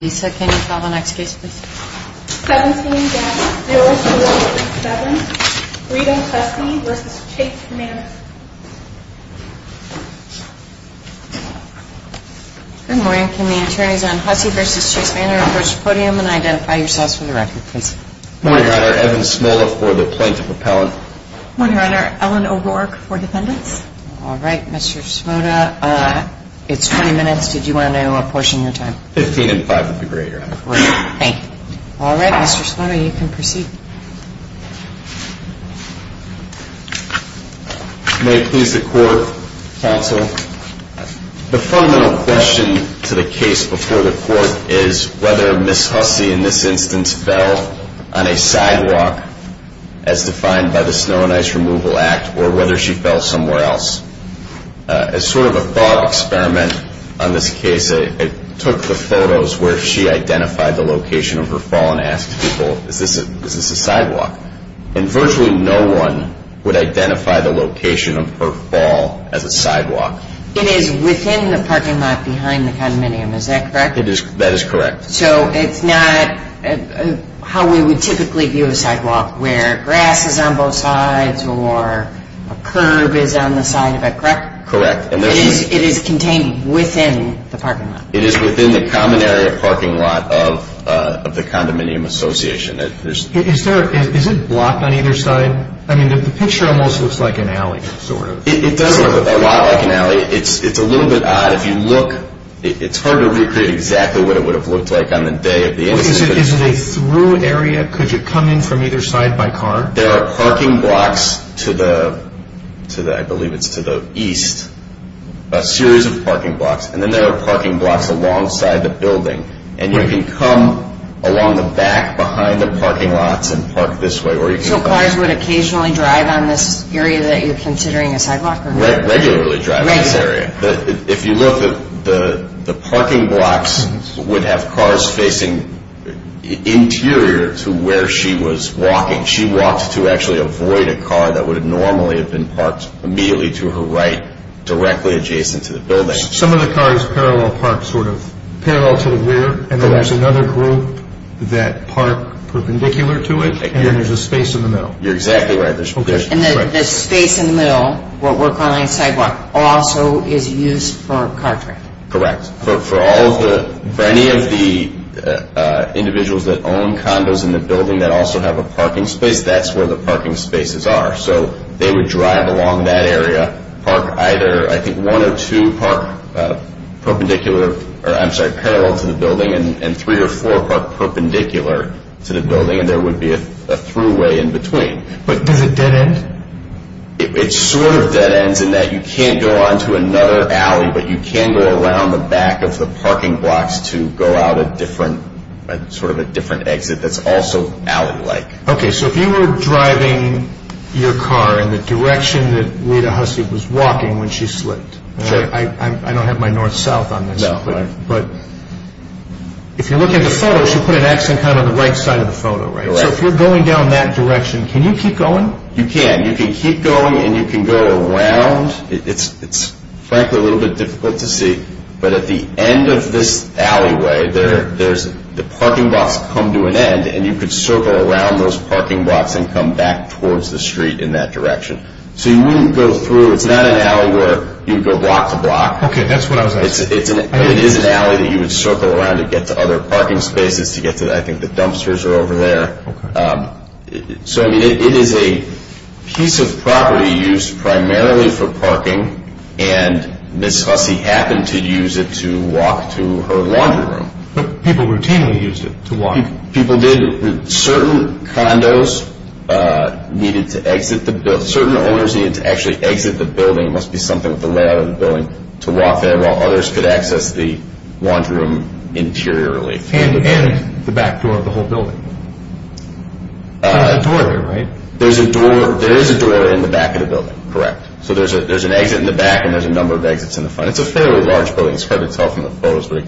Good morning. Can the attorneys on Hussey v. Chase Manor approach the podium and identify yourselves for the record, please? Morning, Your Honor. Evan Smola for the plaintiff appellant. Morning, Your Honor. Ellen O'Rourke for defendants. All right, Mr. Smola. It's 20 minutes. Did you want to apportion your time? Fifteen and five would be great, Your Honor. Thank you. All right, Mr. Smola, you can proceed. May it please the court, counsel, the fundamental question to the case before the court is whether Ms. Hussey in this instance fell on a sidewalk as defined by the Snow and Ice Removal Act or whether she fell somewhere else. As sort of a thought experiment on this case, I took the photos where she identified the location of her fall and asked people, is this a sidewalk? And virtually no one would identify the location of her fall as a sidewalk. It is within the parking lot behind the condominium, is that correct? That is correct. So it's not how we would typically view a sidewalk, where grass is on both sides or a curb is on the side of it, correct? Correct. It is contained within the parking lot. It is within the common area parking lot of the condominium association. Is it blocked on either side? I mean, the picture almost looks like an alley, sort of. It does look a lot like an alley. It's a little bit odd. If you look, it's hard to recreate exactly what it would have looked like on the day of the incident. Is it a through area? Could you come in from either side by car? There are parking blocks to the, I believe it's to the east, a series of parking blocks. And then there are parking blocks alongside the building. And you can come along the back behind the parking lots and park this way. So cars would occasionally drive on this area that you're considering a sidewalk? Regularly drive on this area. If you look, the parking blocks would have cars facing interior to where she was walking. She walked to actually avoid a car that would normally have been parked immediately to her right, directly adjacent to the building. Some of the cars parallel park, sort of parallel to the rear. And then there's another group that park perpendicular to it. And there's a space in the middle. You're exactly right. And the space in the middle, what we're calling sidewalk, also is used for a car track. Correct. For any of the individuals that own condos in the building that also have a parking space, that's where the parking spaces are. So they would drive along that area, park either, I think one or two park perpendicular, or I'm sorry, parallel to the building, and three or four park perpendicular to the building. And there would be a throughway in between. But does it dead end? It sort of dead ends in that you can't go on to another alley, but you can go around the back of the parking blocks to go out a different, sort of a different exit that's also alley-like. Okay, so if you were driving your car in the direction that Rita Hussey was walking when she slipped. Sure. I don't have my north-south on this. No, right. But if you're looking at the photos, you put an X on kind of the right side of the photo, right? Correct. So if you're going down that direction, can you keep going? You can. You can keep going and you can go around. It's frankly a little bit difficult to see, but at the end of this alleyway, the parking blocks come to an end and you can circle around those parking blocks and come back towards the street in that direction. So you wouldn't go through. It's not an alley where you'd go block to block. Okay, that's what I was asking. It is an alley that you would circle around to get to other parking spaces, to get to, I think, the dumpsters are over there. Okay. So, I mean, it is a piece of property used primarily for parking, and Ms. Hussey happened to use it to walk to her laundry room. But people routinely used it to walk. People did. Certain condos needed to exit the building. Certain owners needed to actually exit the building. It must be something with the layout of the building to walk there while others could access the laundry room interiorly. And the back door of the whole building. There's not a door there, right? There is a door in the back of the building, correct. So there's an exit in the back and there's a number of exits in the front. It's a fairly large building. It's hard to tell from the photos, but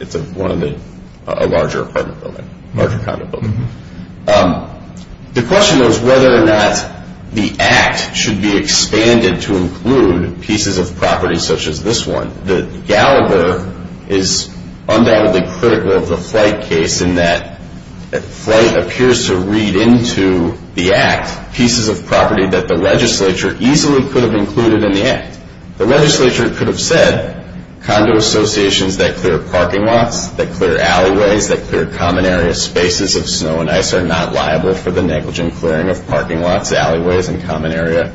it's a larger apartment building, larger condo building. The question is whether or not the act should be expanded to include pieces of property such as this one. The Gallagher is undoubtedly critical of the flight case in that flight appears to read into the act pieces of property that the legislature easily could have included in the act. The legislature could have said, condo associations that clear parking lots, that clear alleyways, that clear common area spaces of snow and ice are not liable for the negligent clearing of parking lots, alleyways, and common area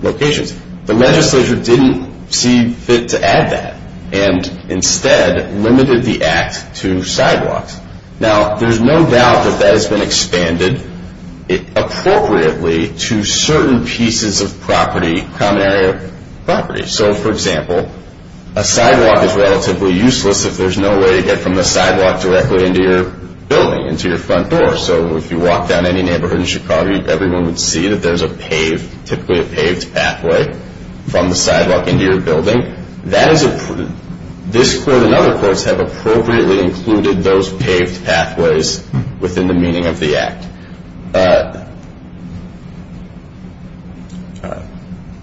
locations. The legislature didn't see fit to add that and instead limited the act to sidewalks. Now, there's no doubt that that has been expanded appropriately to certain pieces of property, common area property. So, for example, a sidewalk is relatively useless if there's no way to get from the sidewalk directly into your building, into your front door. So if you walk down any neighborhood in Chicago, everyone would see that there's a paved, typically a paved pathway from the sidewalk into your building. This court and other courts have appropriately included those paved pathways within the meaning of the act.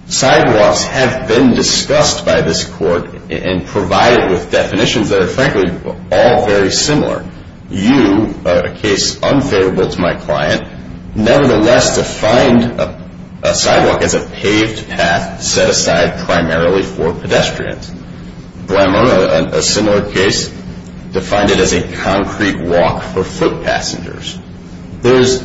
Sidewalks have been discussed by this court and provided with definitions that are, frankly, all very similar. You, a case unfavorable to my client, nevertheless defined a sidewalk as a paved path set aside primarily for pedestrians. Blamo, a similar case, defined it as a concrete walk for foot passengers. There's,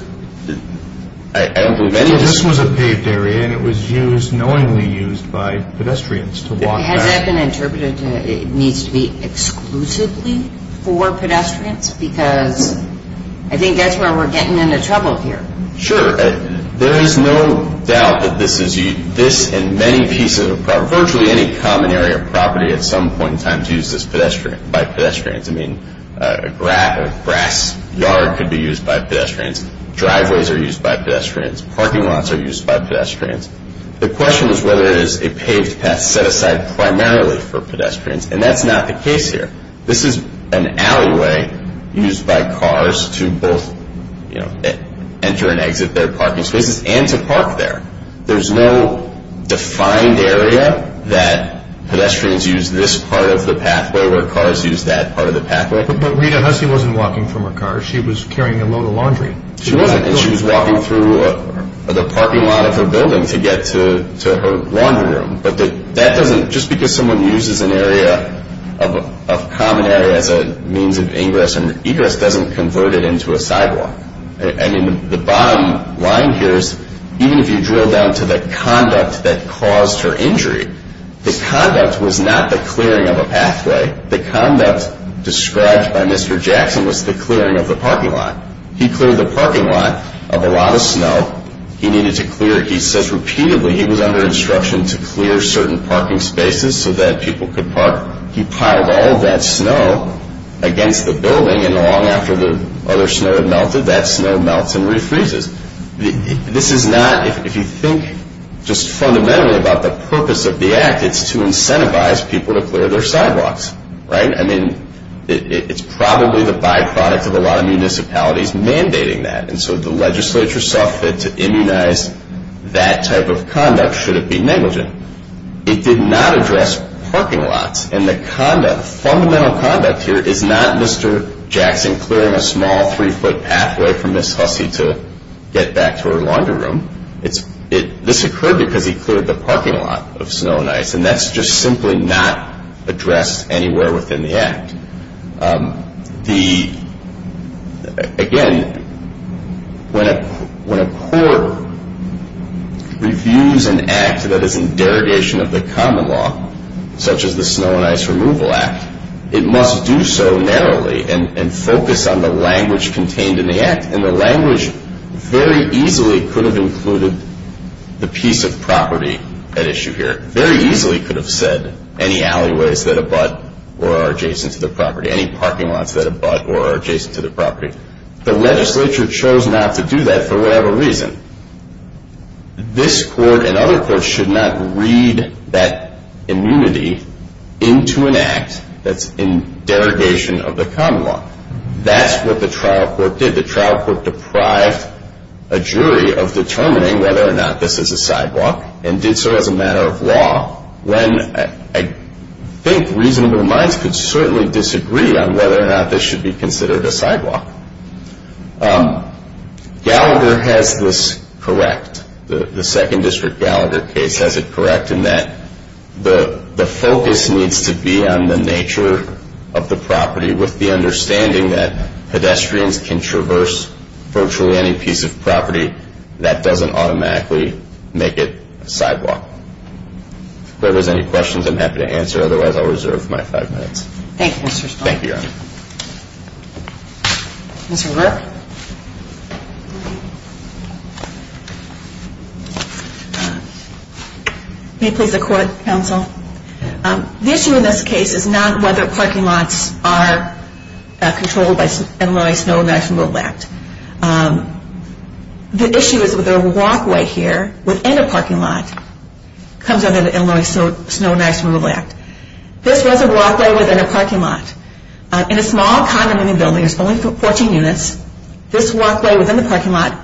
I don't believe any of this... This was a paved area and it was used, knowingly used by pedestrians to walk back. Has that been interpreted that it needs to be exclusively for pedestrians? Because I think that's where we're getting into trouble here. Sure. There is no doubt that this and many pieces of property, virtually any common area property at some point in time, is used by pedestrians. I mean, a grass yard could be used by pedestrians. Driveways are used by pedestrians. Parking lots are used by pedestrians. The question is whether it is a paved path set aside primarily for pedestrians, and that's not the case here. This is an alleyway used by cars to both enter and exit their parking spaces and to park there. There's no defined area that pedestrians use this part of the pathway where cars use that part of the pathway. But Rita Hussey wasn't walking from her car. She was carrying a load of laundry. She wasn't. She was walking through the parking lot of her building to get to her laundry room. But that doesn't, just because someone uses an area of common area as a means of ingress and egress doesn't convert it into a sidewalk. I mean, the bottom line here is even if you drill down to the conduct that caused her injury, the conduct was not the clearing of a pathway. The conduct described by Mr. Jackson was the clearing of the parking lot. He cleared the parking lot of a lot of snow he needed to clear. He says repeatedly he was under instruction to clear certain parking spaces so that people could park. He piled all of that snow against the building, and long after the other snow had melted, that snow melts and refreezes. This is not, if you think just fundamentally about the purpose of the act, it's to incentivize people to clear their sidewalks, right? I mean, it's probably the byproduct of a lot of municipalities mandating that, and so the legislature saw fit to immunize that type of conduct should it be negligent. It did not address parking lots, and the conduct, fundamental conduct here, is not Mr. Jackson clearing a small three-foot pathway for Ms. Hussey to get back to her laundry room. This occurred because he cleared the parking lot of snow and ice, and that's just simply not addressed anywhere within the act. Again, when a court reviews an act that is in derogation of the common law, such as the Snow and Ice Removal Act, it must do so narrowly and focus on the language contained in the act, and the language very easily could have included the piece of property at issue here. It very easily could have said any alleyways that abut or are adjacent to the property, any parking lots that abut or are adjacent to the property. The legislature chose not to do that for whatever reason. This court and other courts should not read that immunity into an act that's in derogation of the common law. That's what the trial court did. The trial court deprived a jury of determining whether or not this is a sidewalk, and did so as a matter of law, when I think reasonable minds could certainly disagree on whether or not this should be considered a sidewalk. Gallagher has this correct. The 2nd District Gallagher case has it correct in that the focus needs to be on the nature of the property with the understanding that pedestrians can traverse virtually any piece of property. That doesn't automatically make it a sidewalk. If there's any questions, I'm happy to answer. Otherwise, I'll reserve my five minutes. Thank you, Mr. Stahl. Thank you, Your Honor. Mr. Rupp? May it please the Court, Counsel? The issue in this case is not whether parking lots are controlled by MLA Snow and National Road Act. The issue is whether a walkway here within a parking lot comes under the MLA Snow and National Road Act. This was a walkway within a parking lot. In a small condominium building, there's only 14 units. This walkway within the parking lot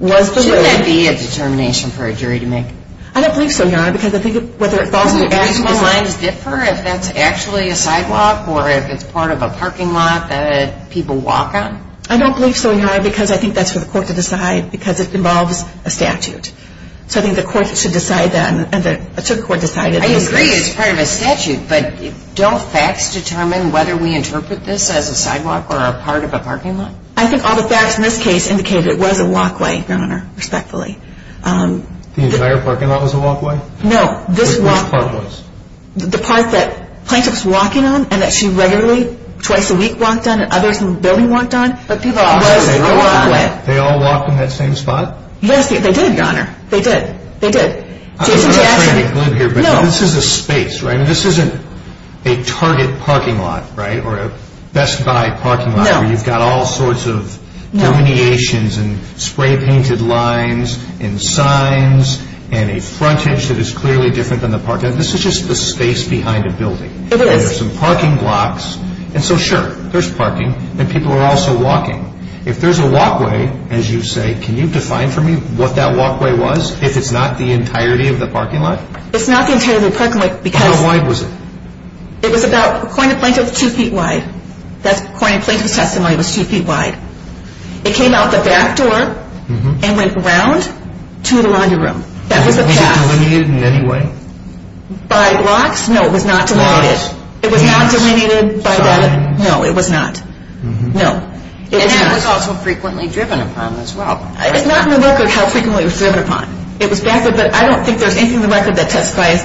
was the road. Shouldn't that be a determination for a jury to make? I don't believe so, Your Honor, because I think whether it falls into the actual design... Do reasonable minds differ if that's actually a sidewalk or if it's part of a parking lot that people walk on? I don't believe so, Your Honor, because I think that's for the court to decide, because it involves a statute. So I think the court should decide that, and the circuit court decided... I agree it's part of a statute, but don't facts determine whether we interpret this as a sidewalk or a part of a parking lot? I think all the facts in this case indicate it was a walkway, Your Honor, respectfully. The entire parking lot was a walkway? No, this walkway... Which part was? The part that plaintiff's walking on and that she regularly, twice a week, walked on and others in the building walked on, was a walkway. They all walked in that same spot? Yes, they did, Your Honor, they did. Jason Jackson... This is a space, right? This isn't a target parking lot, right? Or a Best Buy parking lot where you've got all sorts of delineations and spray-painted lines and signs and a frontage that is clearly different than the parking lot. This is just the space behind a building. It is. And there's some parking blocks, and so sure, there's parking, and people are also walking. If there's a walkway, as you say, can you define for me what that walkway was, if it's not the entirety of the parking lot? It's not the entirety of the parking lot because... How wide was it? It was about, according to plaintiff, two feet wide. According to plaintiff's testimony, it was two feet wide. It came out the back door and went around to the laundry room. Was it delineated in any way? By blocks? No, it was not delineated. It was not delineated by that? No, it was not. And it was also frequently driven upon as well. It's not in the record how frequently it was driven upon. It was back there, but I don't think there's anything in the record that testifies,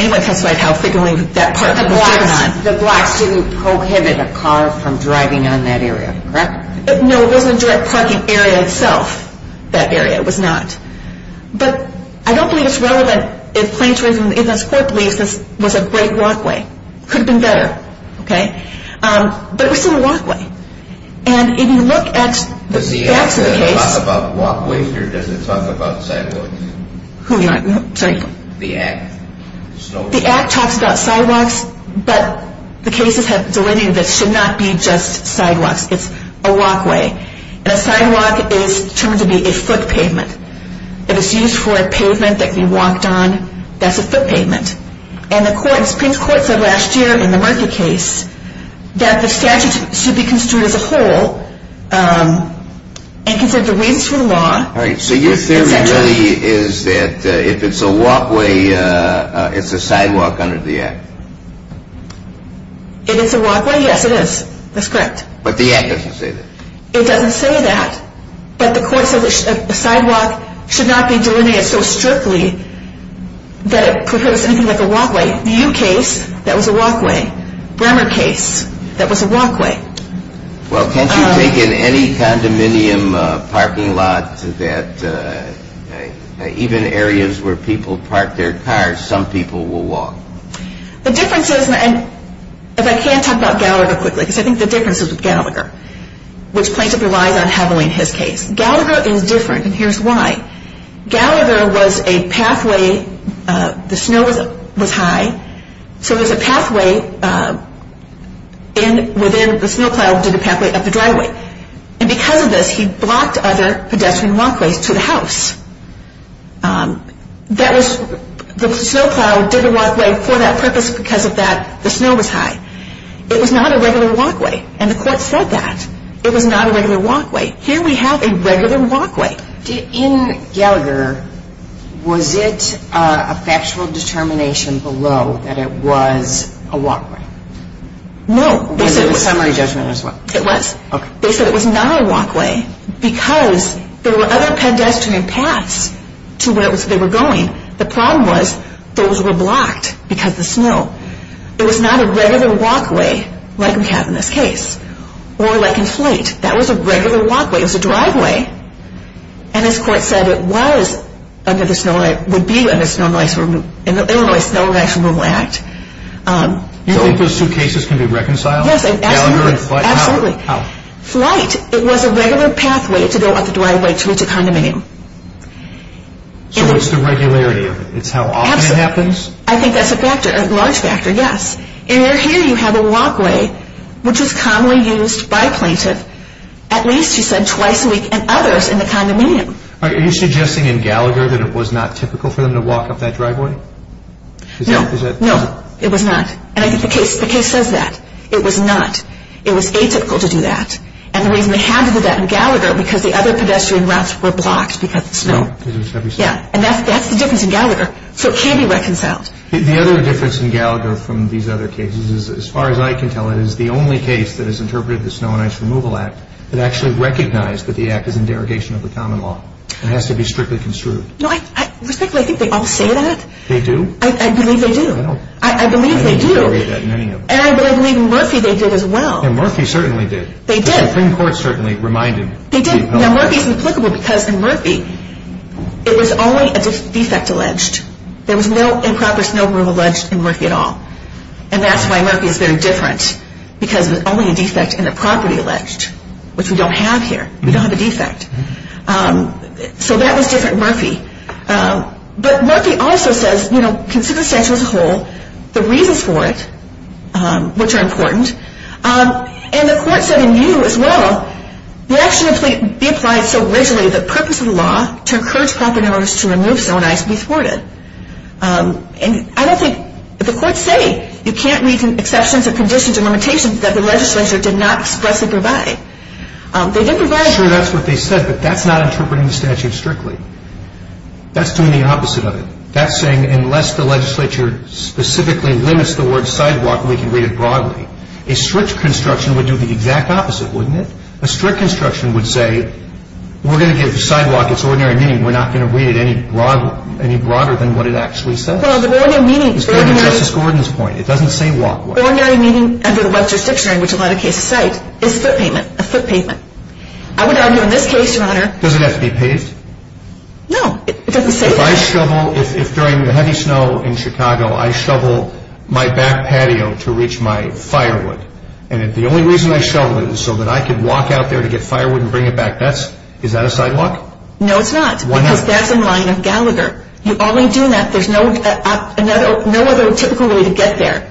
anyone testified how frequently that parking lot was driven on. The blocks didn't prohibit a car from driving on that area, correct? No, it wasn't a direct parking area itself, that area. It was not. But I don't believe it's relevant if plaintiff's court believes this was a great walkway. It could have been better, okay? But it was still a walkway. And if you look at the facts of the case... Does the act talk about walkways or does it talk about sidewalks? Sorry? The act. The act talks about sidewalks, but the cases have delineated that it should not be just sidewalks. It's a walkway. And a sidewalk is termed to be a foot pavement. It is used for a pavement that can be walked on. That's a foot pavement. And the Supreme Court said last year in the Murphy case that the statute should be construed as a whole and consider the reasons for the law. All right, so your theory really is that if it's a walkway, it's a sidewalk under the act? If it's a walkway, yes, it is. That's correct. But the act doesn't say that. It doesn't say that. But the court said a sidewalk should not be delineated so strictly that it prefers anything like a walkway. The U case, that was a walkway. Bremer case, that was a walkway. Well, can't you take in any condominium parking lot that even areas where people park their cars, some people will walk? The difference is, and if I can talk about Gallagher quickly, because I think the difference is with Gallagher, which plaintiff relies on heavily in his case. Gallagher is different, and here's why. Gallagher was a pathway, the snow was high, so there's a pathway within the snow cloud to the pathway of the driveway. And because of this, he blocked other pedestrian walkways to the house. That was, the snow cloud did a walkway for that purpose because of that, the snow was high. It was not a regular walkway, and the court said that. It was not a regular walkway. Here we have a regular walkway. In Gallagher, was it a factual determination below that it was a walkway? No, they said it was not a walkway. Why? Because there were other pedestrian paths to where they were going. The problem was, those were blocked because of the snow. It was not a regular walkway like we have in this case, or like in Flate. That was a regular walkway. It was a driveway. And as court said, it was under the Illinois Snow and Ice Removal Act. You think those two cases can be reconciled? Yes, absolutely. Gallagher and Flate? Absolutely. Flate, it was a regular pathway to go up the driveway to reach a condominium. So what's the regularity of it? It's how often it happens? Absolutely. I think that's a factor, a large factor, yes. And here you have a walkway, which was commonly used by a plaintiff, at least she said twice a week, and others in the condominium. Are you suggesting in Gallagher that it was not typical for them to walk up that driveway? No, no, it was not. And I think the case says that. It was not. It was very typical to do that. And the reason they had to do that in Gallagher, because the other pedestrian routes were blocked because of the snow. And that's the difference in Gallagher. So it can be reconciled. The other difference in Gallagher from these other cases, as far as I can tell, is the only case that has interpreted the Snow and Ice Removal Act that actually recognized that the act is in derogation of the common law. It has to be strictly construed. Respectfully, I think they all say that. They do? I believe they do. I believe they do. And I believe in Murphy they did as well. And Murphy certainly did. They did. The Supreme Court certainly reminded people. They did. Now, Murphy is implicable because in Murphy it was only a defect alleged. There was no improper snow removal alleged in Murphy at all. And that's why Murphy is very different, because it was only a defect in the property alleged, which we don't have here. We don't have a defect. So that was different in Murphy. But Murphy also says, you know, consider the statute as a whole, the reasons for it, which are important. And the court said in view as well, the action be applied so rigidly the purpose of the law to encourage property owners to remove snow and ice be thwarted. And I don't think the courts say you can't read the exceptions and conditions and limitations that the legislature did not expressly provide. They did provide. Sure, that's what they said, but that's not interpreting the statute strictly. That's doing the opposite of it. That's saying unless the legislature specifically limits the word sidewalk, we can read it broadly. A strict construction would do the exact opposite, wouldn't it? A strict construction would say we're going to give sidewalk its ordinary meaning. We're not going to read it any broader than what it actually says. Well, the ordinary meaning is very much. It's going to Justice Gordon's point. It doesn't say walkway. Ordinary meaning under the Webster-Strips language, a lot of cases cite, is foot pavement, a foot pavement. I would argue in this case, Your Honor. Does it have to be paved? No, it doesn't say that. If I shovel, if during the heavy snow in Chicago I shovel my back patio to reach my firewood and the only reason I shoveled it is so that I could walk out there to get firewood and bring it back, is that a sidewalk? No, it's not. Why not? Because that's in line with Gallagher. You only do that, there's no other typical way to get there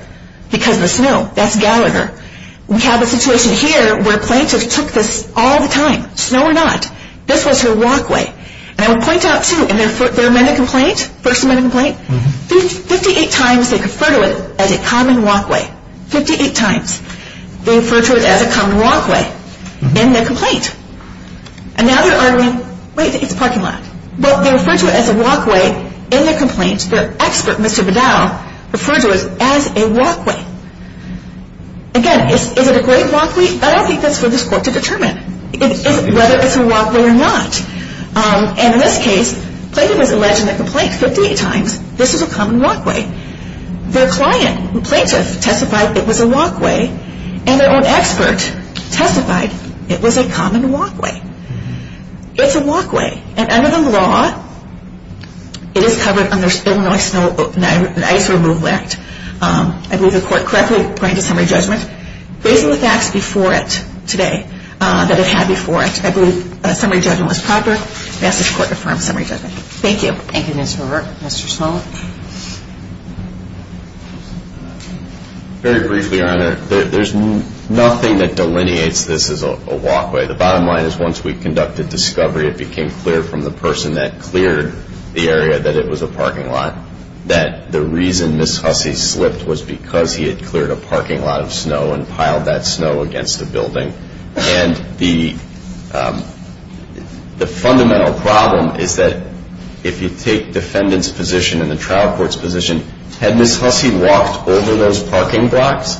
because of the snow. That's Gallagher. We have a situation here where plaintiffs took this all the time, snow or not. This was her walkway. And I would point out, too, in their amendment complaint, first amendment complaint, 58 times they refer to it as a common walkway. Fifty-eight times they refer to it as a common walkway in their complaint. And now they're arguing, wait, it's a parking lot. But they refer to it as a walkway in their complaint. Their expert, Mr. Beddow, referred to it as a walkway. Again, is it a great walkway? I don't think that's for this Court to determine whether it's a walkway or not. And in this case, plaintiff has alleged in their complaint 58 times this is a common walkway. Their client, the plaintiff, testified it was a walkway. And their own expert testified it was a common walkway. It's a walkway. And under the law, it is covered under Illinois Snow and Ice Removal Act. I believe the Court correctly granted summary judgment. Based on the facts before it today that it had before it, I believe summary judgment was proper. And I ask this Court to affirm summary judgment. Thank you. Thank you, Ms. Horvath. Mr. Small? Very briefly, Your Honor, there's nothing that delineates this as a walkway. The bottom line is once we conducted discovery, it became clear from the person that cleared the area that it was a parking lot that the reason Ms. Hussey slipped was because he had cleared a parking lot of snow and piled that snow against the building. And the fundamental problem is that if you take defendant's position and the trial court's position, had Ms. Hussey walked over those parking blocks,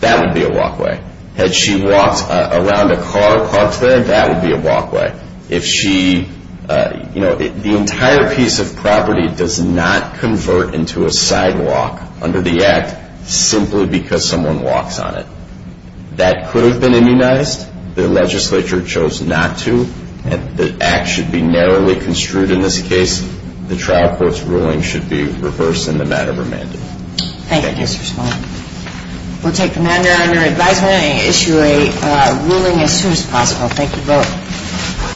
that would be a walkway. Had she walked around a car parked there, that would be a walkway. If she, you know, the entire piece of property does not convert into a sidewalk under the Act simply because someone walks on it. That could have been immunized. The legislature chose not to. The Act should be narrowly construed in this case. The trial court's ruling should be reversed in the matter of a mandate. Thank you, Mr. Small. We'll take the matter under advisement and issue a ruling as soon as possible. Thank you both.